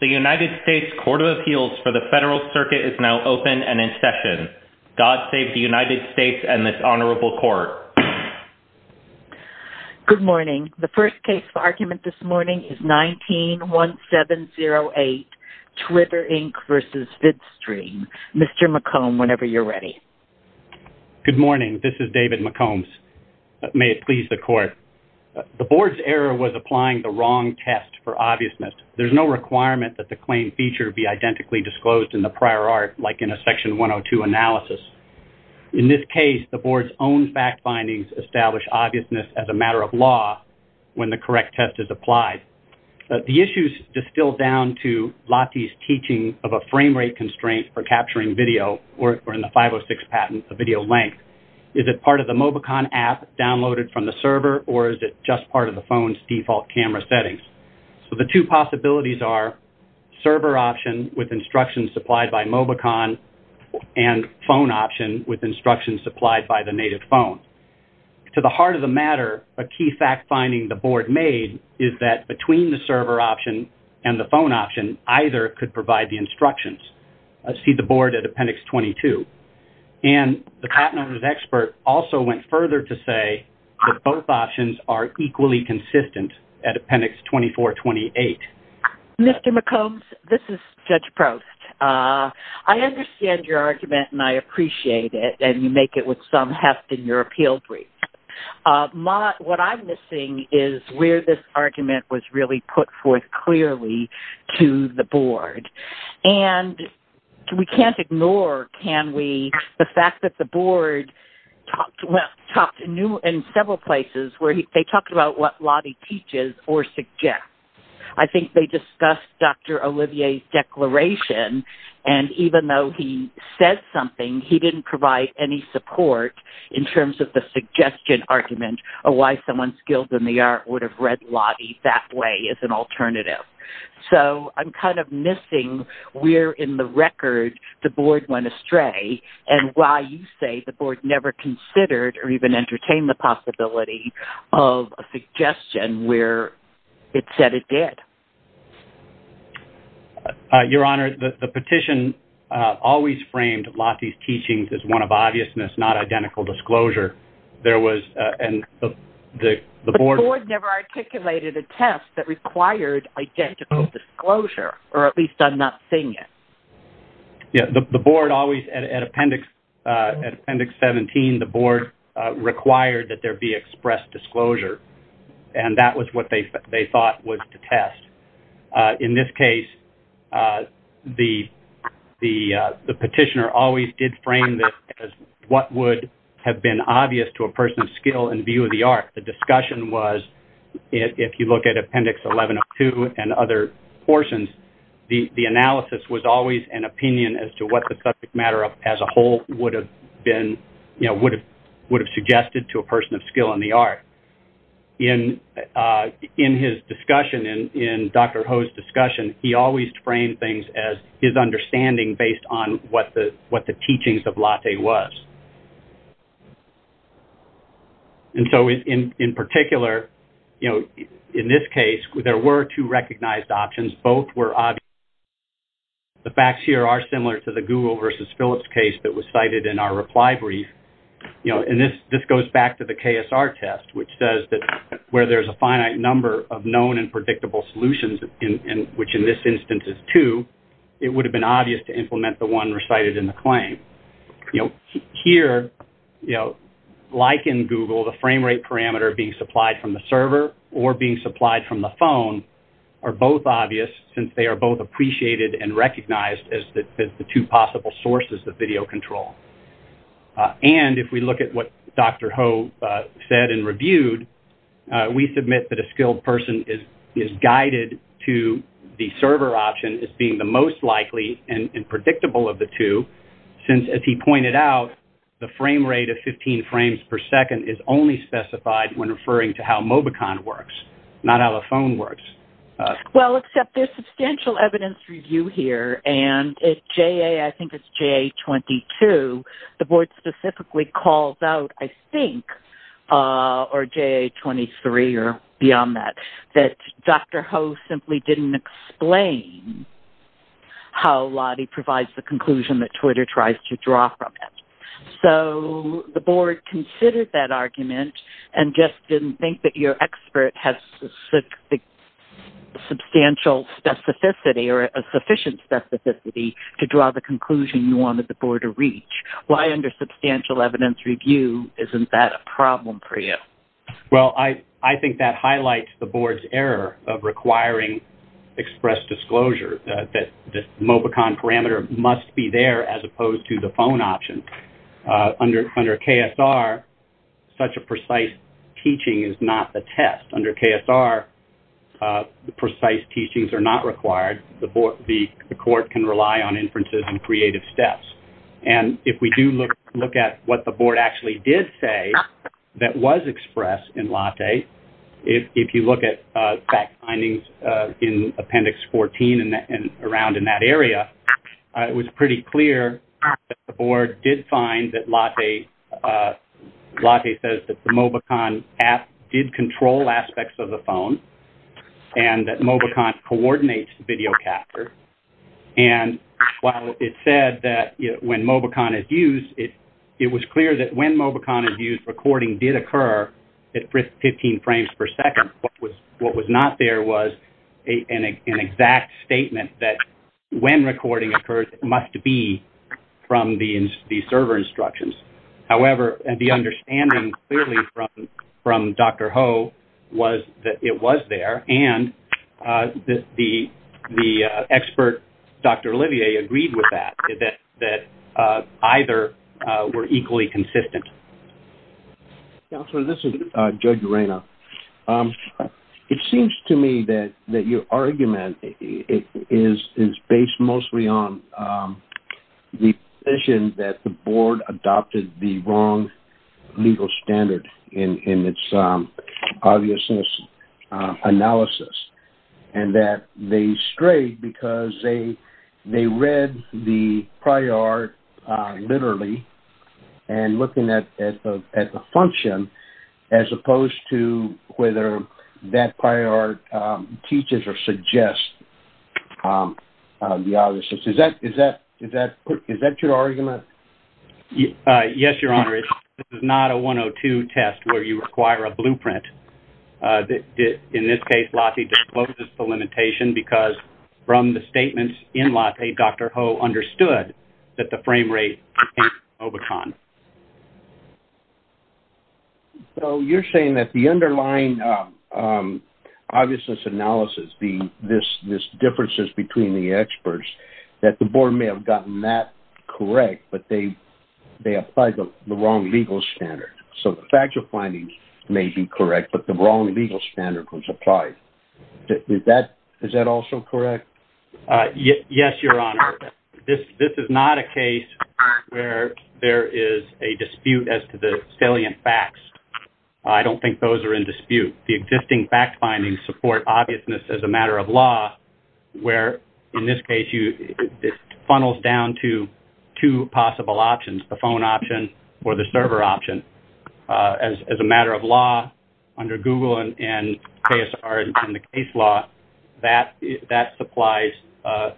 The United States Court of Appeals for the Federal Circuit is now open and in session. God save the United States and this honorable court. Good morning. The first case for argument this morning is 19-1708, Twitter, Inc. v. VidStream. Mr. McComb, whenever you're ready. Good morning. This is David McCombs. May it please the court. The board's error was applying the wrong test for obviousness. There's no requirement that the claim feature be identically disclosed in the prior art, like in a Section 102 analysis. In this case, the board's own fact findings establish obviousness as a matter of law when the correct test is applied. The issues distill down to Lottie's teaching of a frame rate constraint for capturing video, or in the 506 patent, a video length. Is it part of the Mobicon app downloaded from the server or is it just part of the phone's default camera settings? So the two possibilities are server option with instructions supplied by Mobicon and phone option with instructions supplied by the native phone. To the heart of the matter, a key fact finding the board made is that between the server option and the phone option, either could provide the instructions. I see the board at Appendix 22. And the patent owner's expert also went further to say that both options are equally consistent at Appendix 2428. Mr. McCombs, this is Judge Proust. I understand your argument and I appreciate it, and you make it with some heft in your appeal brief. What I'm missing is where this argument was really put forth clearly to the board. And we can't ignore, can we, the fact that the board talked in several places where they talked about what Lottie teaches or suggests. I think they discussed Dr. Olivier's declaration, and even though he said something, he didn't provide any support in terms of the suggestion argument or why someone skilled in the art would have read Lottie that way as an alternative. So I'm kind of missing where in the record the board went astray and why you say the board never considered or even entertained the possibility of a suggestion where it said it did. Your Honor, the petition always framed Lottie's teachings as one of obviousness, not identical disclosure. But the board never articulated a test that required identical disclosure, or at least I'm not seeing it. Yeah, the board always, at Appendix 17, the board required that there be expressed disclosure, and that was what they thought was to test. In this case, the petitioner always did frame this as what would have been obvious to a person of skill in view of the art. The discussion was, if you look at Appendix 11 of 2 and other portions, the analysis was always an opinion as to what the subject matter as a whole would have been, would have suggested to a person of skill in the art. In his discussion, in Dr. Ho's discussion, he always framed things as his understanding based on what the teachings of Lottie was. And so in particular, in this case, there were two recognized options. Both were obvious. The facts here are similar to the Google versus Phillips case that was cited in our reply brief. And this goes back to the KSR test, which says that where there's a finite number of known and predictable solutions, which in this instance is two, it would have been obvious to implement the one recited in the claim. Here, like in Google, the frame rate parameter being supplied from the server or being supplied from the phone are both obvious since they are both appreciated and recognized as the two possible sources of video control. And if we look at what Dr. Ho said and reviewed, we submit that a skilled person is guided to the server option as being the most likely and predictable of the two since, as he pointed out, the frame rate of 15 frames per second is only specified when referring to how Mobicon works, not how the phone works. Well, except there's substantial evidence review here, and at JA, I think it's JA-22, the board specifically calls out, I think, or JA-23 or beyond that, that Dr. Ho simply didn't explain how Lottie provides the conclusion that Twitter tries to draw from it. So the board considered that argument and just didn't think that your expert has the substantial specificity or a sufficient specificity to draw the conclusion you wanted the board to reach. Why, under substantial evidence review, isn't that a problem for you? Well, I think that highlights the board's error of requiring express disclosure, that the Mobicon parameter must be there as opposed to the phone option. Under KSR, such a precise teaching is not the test. Under KSR, precise teachings are not required. The court can rely on inferences and creative steps. And if we do look at what the board actually did say that was expressed in Lottie, if you look at fact findings in Appendix 14 and around in that area, it was pretty clear that the board did find that Lottie says that the Mobicon app did control aspects of the phone and that Mobicon coordinates video capture. And while it said that when Mobicon is used, it was clear that when Mobicon is used, recording did occur at 15 frames per second. What was not there was an exact statement that when recording occurs, it must be from the server instructions. However, the understanding clearly from Dr. Ho was that it was there, and the expert, Dr. Olivier, agreed with that, that either were equally consistent. Counselor, this is Judge Urena. It seems to me that your argument is based mostly on the position that the board adopted the wrong legal standard in its obviousness analysis. And that they strayed because they read the prior art literally and looking at the function as opposed to whether that prior art teaches or suggests the obviousness. Is that your argument? Yes, Your Honor. It's not a 102 test where you require a blueprint. In this case, Lottie discloses the limitation because from the statements in Lottie, Dr. Ho understood that the frame rate came from Mobicon. So you're saying that the underlying obviousness analysis, these differences between the experts, that the board may have gotten that correct, but they applied the wrong legal standard. So the factual findings may be correct, but the wrong legal standard was applied. Is that also correct? Yes, Your Honor. This is not a case where there is a dispute as to the salient facts. I don't think those are in dispute. The existing fact findings support obviousness as a matter of law where, in this case, it funnels down to two possible options, the phone option or the server option. As a matter of law, under Google and KSR and the case law, that supplies a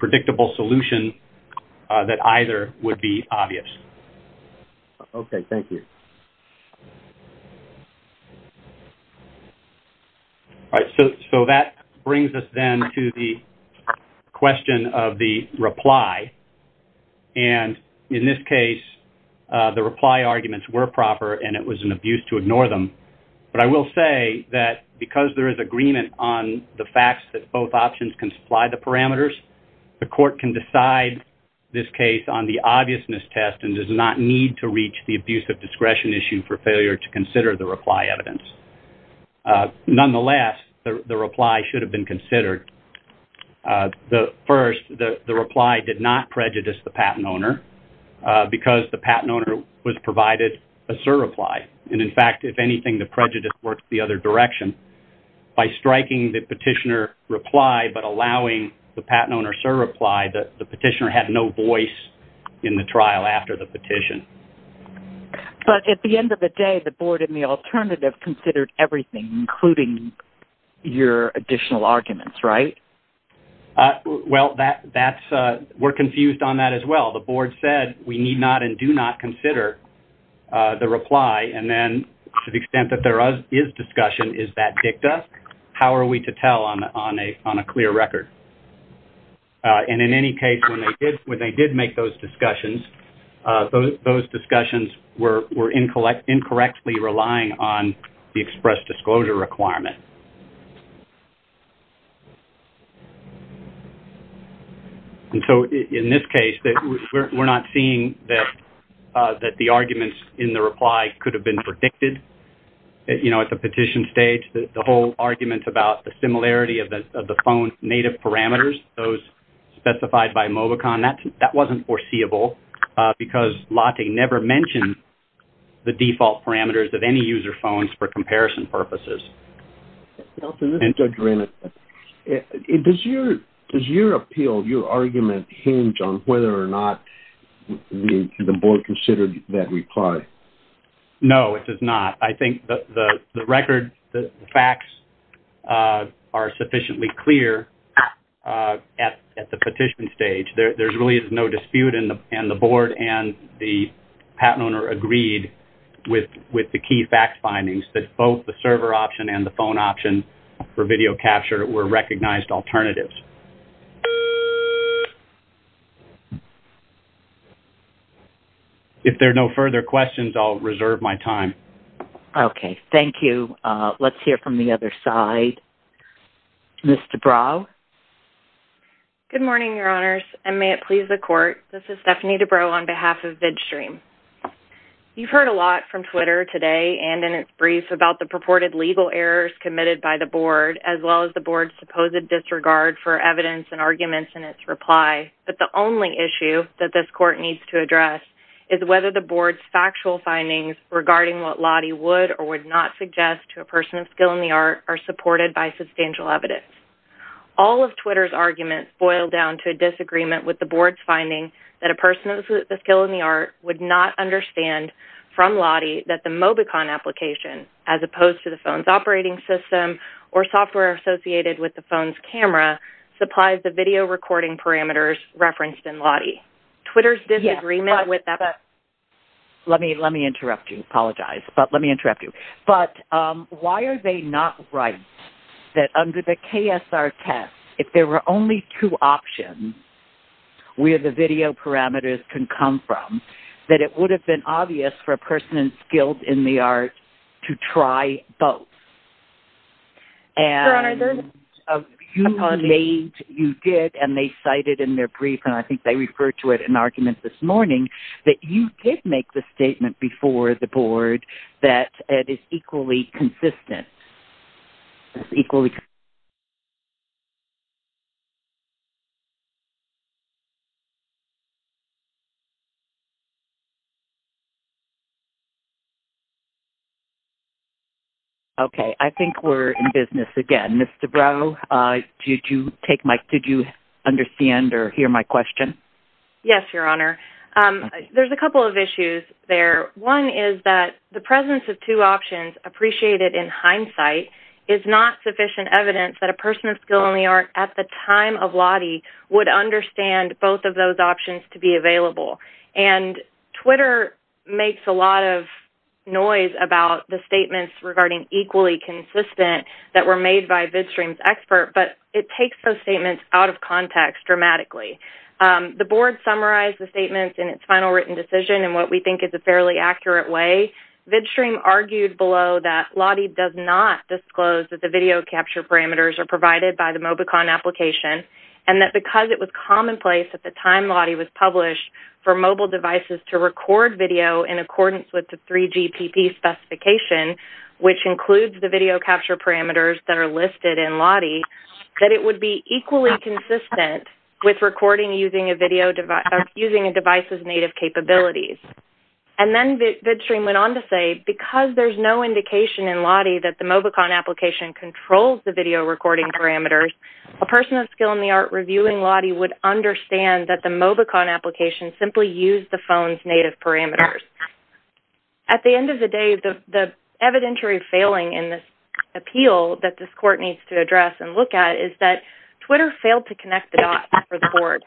predictable solution that either would be obvious. Okay, thank you. All right, so that brings us then to the question of the reply. And in this case, the reply arguments were proper and it was an abuse to ignore them. But I will say that because there is agreement on the facts that both options can supply the parameters, the court can decide this case on the obviousness test and does not need to reach the abuse of discretion issue for failure to consider the reply evidence. Nonetheless, the reply should have been considered. First, the reply did not prejudice the patent owner because the patent owner was provided a sur-reply. And in fact, if anything, the prejudice worked the other direction. By striking the petitioner reply but allowing the patent owner sur-reply, the petitioner had no voice in the trial after the petition. But at the end of the day, the board in the alternative considered everything, including your additional arguments, right? Well, we're confused on that as well. The board said we need not and do not consider the reply. And then to the extent that there is discussion, is that dicta? How are we to tell on a clear record? And in any case, when they did make those discussions, those discussions were incorrectly relying on the express disclosure requirement. And so in this case, we're not seeing that the arguments in the reply could have been predicted. You know, at the petition stage, the whole argument about the similarity of the phone's native parameters, those specified by Mobicon, that wasn't foreseeable. Because Lotte never mentioned the default parameters of any user phones for comparison purposes. Does your appeal, your argument, hinge on whether or not the board considered that reply? No, it does not. I think the record, the facts are sufficiently clear at the petition stage. There really is no dispute, and the board and the patent owner agreed with the key fact findings, that both the server option and the phone option for video capture were recognized alternatives. If there are no further questions, I'll reserve my time. Okay, thank you. Let's hear from the other side. Ms. Dubrow? Good morning, Your Honors, and may it please the Court, this is Stephanie Dubrow on behalf of VidStream. You've heard a lot from Twitter today and in its brief about the purported legal errors committed by the board, as well as the board's supposed disregard for evidence and arguments in its reply. But the only issue that this Court needs to address is whether the board's factual findings regarding what Lotte would or would not suggest to a person of skill in the art are supported by substantial evidence. All of Twitter's arguments boil down to a disagreement with the board's finding that a person of skill in the art would not understand from Lotte that the Mobicon application, as opposed to the phone's operating system or software associated with the phone's camera, supplies the video recording parameters referenced in Lotte. Twitter's disagreement with that... Let me interrupt you. Apologize. But let me interrupt you. But why are they not right that under the KSR test, if there were only two options where the video parameters can come from, that it would have been obvious for a person skilled in the art to try both? Your Honor, the... You did, and they cited in their brief, and I think they referred to it in arguments this morning, that you did make the statement before the board that it is equally consistent. Okay. I think we're in business again. Ms. Dubrow, did you take my... Did you understand or hear my question? Yes, Your Honor. There's a couple of issues there. One is that the presence of two options appreciated in hindsight is not sufficient evidence that a person of skill in the art at the time of Lotte would understand both of those options to be available. And Twitter makes a lot of noise about the statements regarding equally consistent that were made by VidStream's expert, but it takes those statements out of context dramatically. The board summarized the statements in its final written decision in what we think is a fairly accurate way. VidStream argued below that Lotte does not disclose that the video capture parameters are provided by the Mobicon application, and that because it was commonplace at the time Lotte was published for mobile devices to record video in accordance with the 3GPP specification, which includes the video capture parameters that are listed in Lotte, that it would be equally consistent with recording using a device's native capabilities. And then VidStream went on to say, because there's no indication in Lotte that the Mobicon application controls the video recording parameters, a person of skill in the art reviewing Lotte would understand that the Mobicon application simply used the phone's native parameters. At the end of the day, the evidentiary failing in this appeal that this court needs to address and look at is that Twitter failed to connect the dots for the board.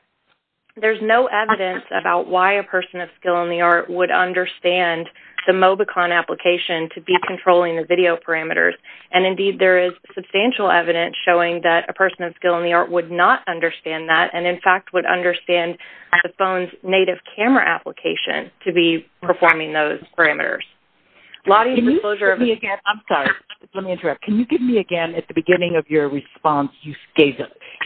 There's no evidence about why a person of skill in the art would understand the Mobicon application to be controlling the video parameters. And, indeed, there is substantial evidence showing that a person of skill in the art would not understand that, and, in fact, would understand the phone's native camera application to be performing those parameters. Lotte, in the closure of... I'm sorry. Let me interrupt. Can you give me again, at the beginning of your response,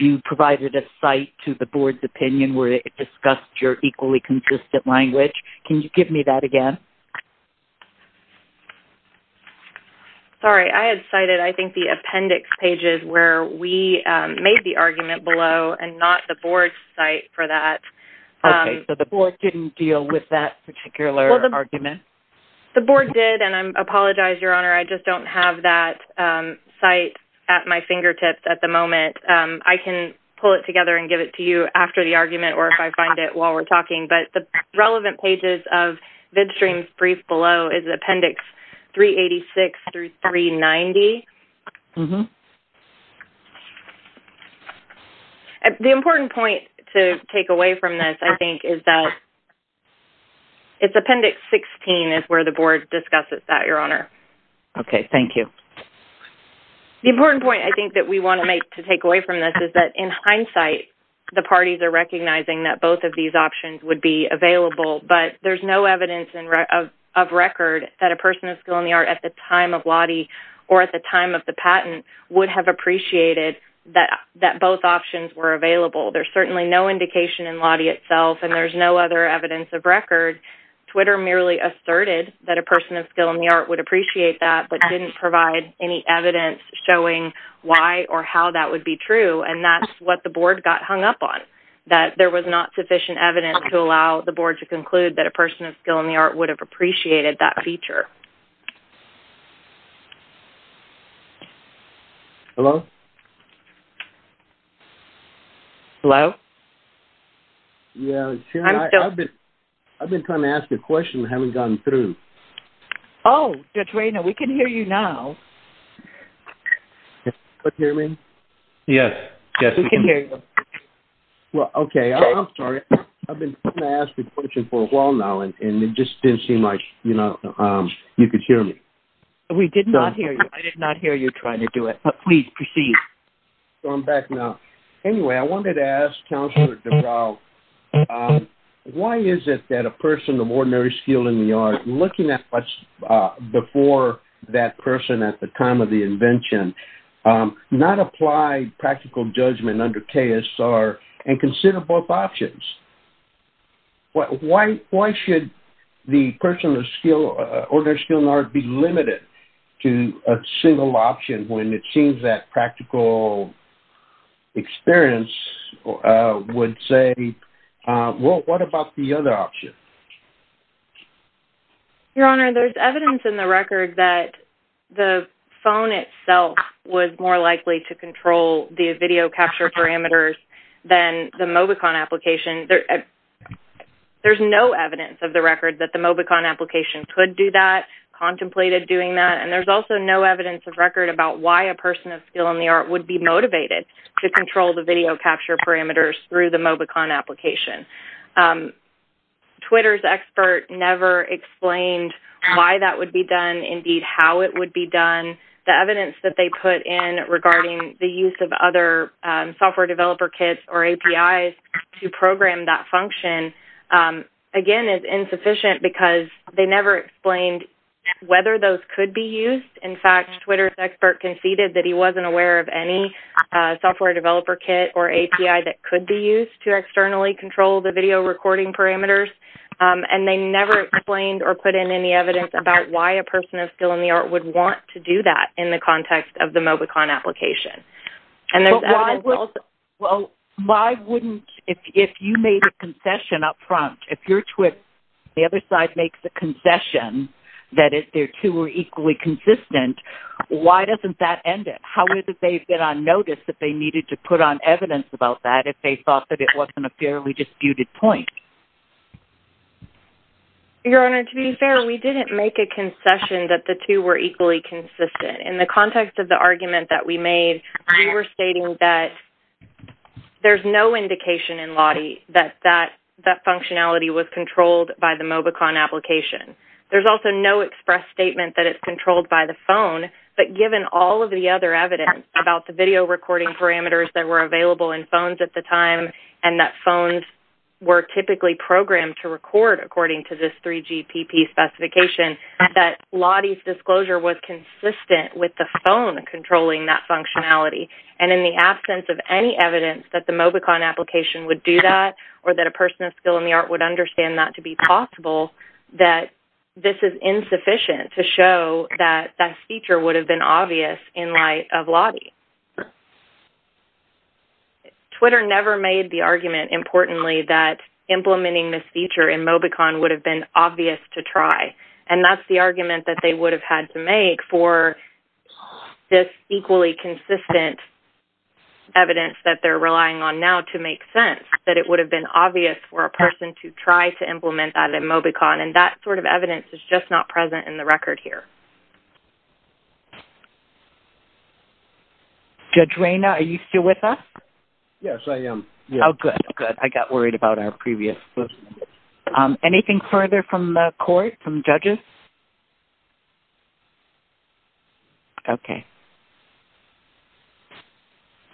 you provided a cite to the board's opinion where it discussed your equally consistent language. Can you give me that again? Sorry. I had cited, I think, the appendix pages where we made the argument below and not the board's cite for that. Okay. So the board didn't deal with that particular argument? The board did, and I apologize, Your Honor. I just don't have that cite at my fingertips at the moment. I can pull it together and give it to you after the argument or if I find it while we're talking. But the relevant pages of VidStream's brief below is Appendix 386 through 390. The important point to take away from this, I think, is that it's Appendix 16 is where the board discusses that, Your Honor. Okay. Thank you. The important point, I think, that we want to make to take away from this is that, in hindsight, the parties are recognizing that both of these options would be available, but there's no evidence of record that a person of skill in the art at the time of Lotte or at the time of the patent would have appreciated that both options were available. There's certainly no indication in Lotte itself, and there's no other evidence of record. Twitter merely asserted that a person of skill in the art would appreciate that, but didn't provide any evidence showing why or how that would be true, and that's what the board got hung up on, that there was not sufficient evidence to allow the board to conclude that a person of skill in the art would have appreciated that feature. Hello? Yeah, Sherry, I've been trying to ask you a question and haven't gotten through. Oh, Judge Raynor, we can hear you now. Can you hear me? Yes. We can hear you. Well, okay. I'm sorry. I've been trying to ask you a question for a while now, and it just didn't seem like, you know, you could hear me. We did not hear you. I did not hear you trying to do it, but please proceed. So I'm back now. Anyway, I wanted to ask Counselor Dubrow, why is it that a person of ordinary skill in the art, looking at what's before that person at the time of the invention, not apply practical judgment under KSR and consider both options? Why should the person of ordinary skill in the art be limited to a single option when it seems that practical experience would say, well, what about the other option? Your Honor, there's evidence in the record that the phone itself was more likely to control the video capture parameters than the Mobicon application. There's no evidence of the record that the Mobicon application could do that, contemplated doing that, and there's also no evidence of record about why a person of skill in the art would be motivated to control the video capture parameters through the Mobicon application. Twitter's expert never explained why that would be done, indeed how it would be done. The evidence that they put in regarding the use of other software developer kits or APIs to program that function, again, is insufficient because they never explained whether those could be used. In fact, Twitter's expert conceded that he wasn't aware of any software developer kit or API that could be used to externally control the video recording parameters, and they never explained or put in any evidence about why a person of skill in the art would want to do that in the context of the Mobicon application. Well, why wouldn't, if you made a concession up front, if your Twitter, the other side makes a concession that if their two were equally consistent, why doesn't that end it? How is it they've been on notice that they needed to put on evidence about that if they thought that it wasn't a fairly disputed point? Your Honor, to be fair, we didn't make a concession that the two were equally consistent. In the context of the argument that we made, we were stating that there's no indication in Lottie that that functionality was controlled by the Mobicon application. There's also no express statement that it's controlled by the phone, but given all of the other evidence about the video recording parameters that were available in phones at the time, and that phones were typically programmed to record according to this 3GPP specification, that Lottie's disclosure was consistent with the phone controlling that functionality. And in the absence of any evidence that the Mobicon application would do that, or that a person of skill in the art would understand that to be possible, that this is insufficient to show that that feature would have been obvious in light of Lottie. Twitter never made the argument, importantly, that implementing this feature in Mobicon would have been obvious to try, and that's the argument that they would have had to make for this equally consistent evidence that they're relying on now to make sense. That it would have been obvious for a person to try to implement that in Mobicon, and that sort of evidence is just not present in the record here. Judge Rayna, are you still with us? Yes, I am. Oh, good. Good. I got worried about our previous listening. Anything further from the court, from judges? Okay.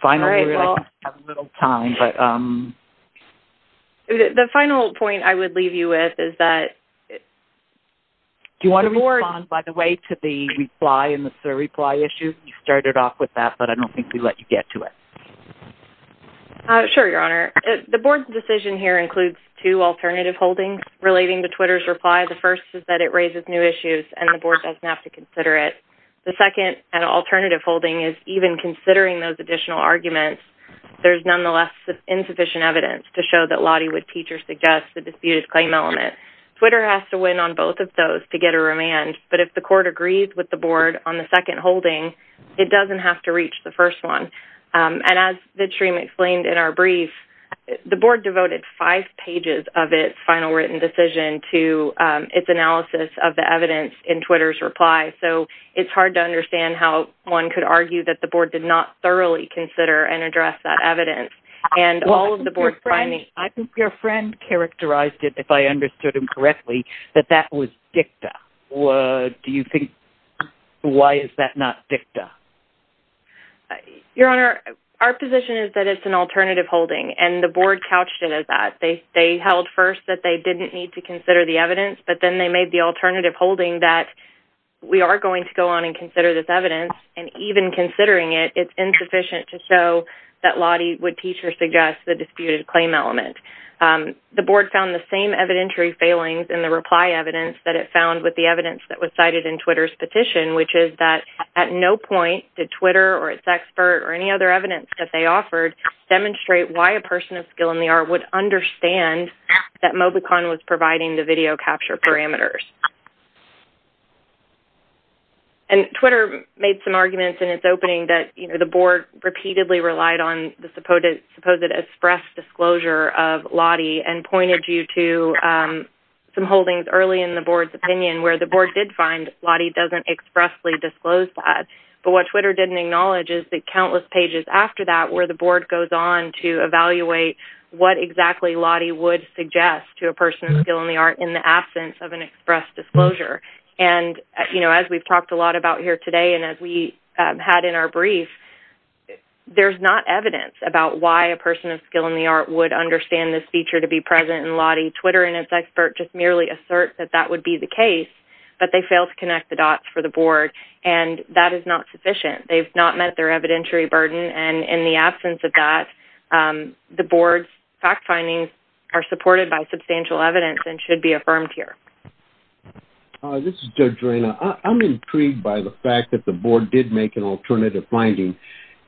Finally, we're going to have a little time, but... The final point I would leave you with is that... Do you want to respond, by the way, to the reply and the surreply issue? You started off with that, but I don't think we let you get to it. Sure, Your Honor. The board's decision here includes two alternative holdings relating to Twitter's reply. The first is that it raises new issues, and the board doesn't have to consider it. The second, an alternative holding, is even considering those additional arguments, there's nonetheless insufficient evidence to show that Lottie would teach or suggest the disputed claim element. Twitter has to win on both of those to get a remand, but if the court agrees with the board on the second holding, it doesn't have to reach the first one. And as Vidshreem explained in our brief, the board devoted five pages of its final written decision to its analysis of the evidence in Twitter's reply, so it's hard to understand how one could argue that the board did not thoroughly consider and address that evidence. I think your friend characterized it, if I understood him correctly, that that was dicta. Why is that not dicta? Your Honor, our position is that it's an alternative holding, and the board couched it as that. They held first that they didn't need to consider the evidence, but then they made the alternative holding that we are going to go on and consider this evidence, and even considering it, it's insufficient to show that Lottie would teach or suggest the disputed claim element. The board found the same evidentiary failings in the reply evidence that it found with the evidence that was cited in Twitter's petition, which is that at no point did Twitter or its expert or any other evidence that they offered demonstrate why a person of skill in the art would understand that Mobicon was providing the video capture parameters. And Twitter made some arguments in its opening that the board repeatedly relied on the supposed express disclosure of Lottie and pointed you to some holdings early in the board's opinion where the board did find Lottie doesn't expressly disclose that, but what Twitter didn't acknowledge is that countless pages after that where the board goes on to evaluate what exactly Lottie would suggest to a person of skill in the art in the absence of an express disclosure. And, you know, as we've talked a lot about here today and as we had in our brief, there's not evidence about why a person of skill in the art would understand this feature to be present in Lottie. Twitter and its expert just merely assert that that would be the case, but they failed to connect the dots for the board, and that is not sufficient. They've not met their evidentiary burden. And in the absence of that, the board's fact findings are supported by substantial evidence and should be affirmed here. This is Judge Reina. I'm intrigued by the fact that the board did make an alternative finding,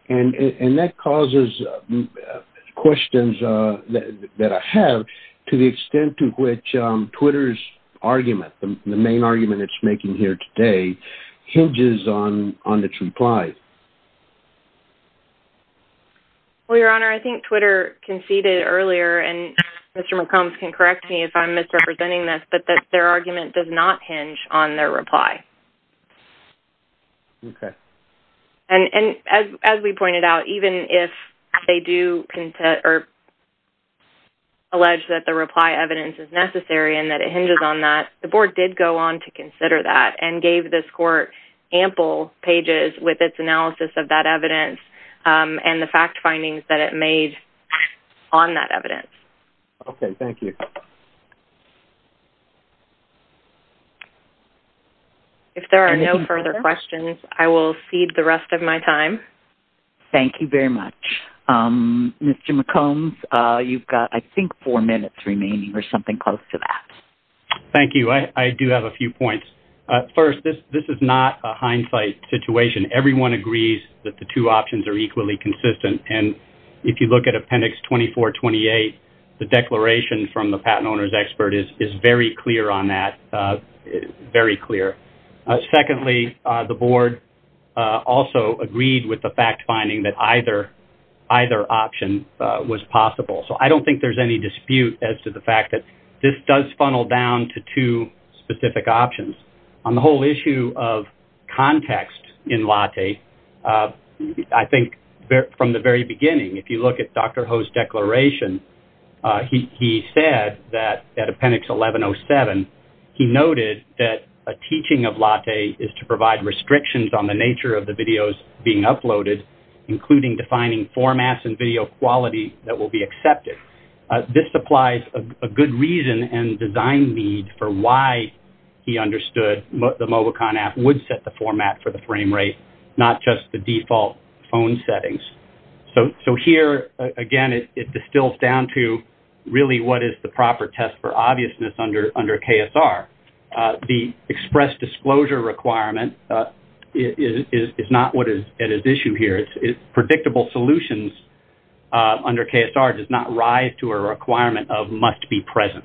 and that causes questions that I have to the extent to which Twitter's argument, the main argument it's making here today, hinges on its reply. Well, Your Honor, I think Twitter conceded earlier, and Mr. McCombs can correct me if I'm misrepresenting this, but that their argument does not hinge on their reply. Okay. And as we pointed out, even if they do allege that the reply evidence is necessary and that it hinges on that, the board did go on to consider that and gave this court ample pages with its analysis of that evidence and the fact findings that it made on that evidence. Okay. Thank you. If there are no further questions, I will cede the rest of my time. Thank you very much. Mr. McCombs, you've got, I think, four minutes remaining or something close to that. Thank you. I do have a few points. First, this is not a hindsight situation. Everyone agrees that the two options are equally consistent, and if you look at Appendix 2428, the declaration from the patent owner's expert is very clear on that, very clear. Secondly, the board also agreed with the fact finding that either option was possible. So I don't think there's any dispute as to the fact that this does funnel down to two specific options. On the whole issue of context in LATTE, I think from the very beginning, if you look at Dr. Ho's declaration, he said that at Appendix 1107, he noted that a teaching of LATTE is to provide restrictions on the nature of the videos being uploaded, including defining formats and video quality that will be accepted. This supplies a good reason and design need for why he understood the Mobicon app would set the format for the frame rate, not just the default phone settings. So here, again, it distills down to really what is the proper test for obviousness under KSR. The express disclosure requirement is not what is at issue here. Predictable solutions under KSR does not rise to a requirement of must be present.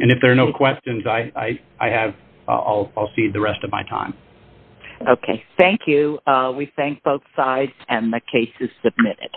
And if there are no questions, I'll cede the rest of my time. Okay, thank you. We thank both sides, and the case is submitted.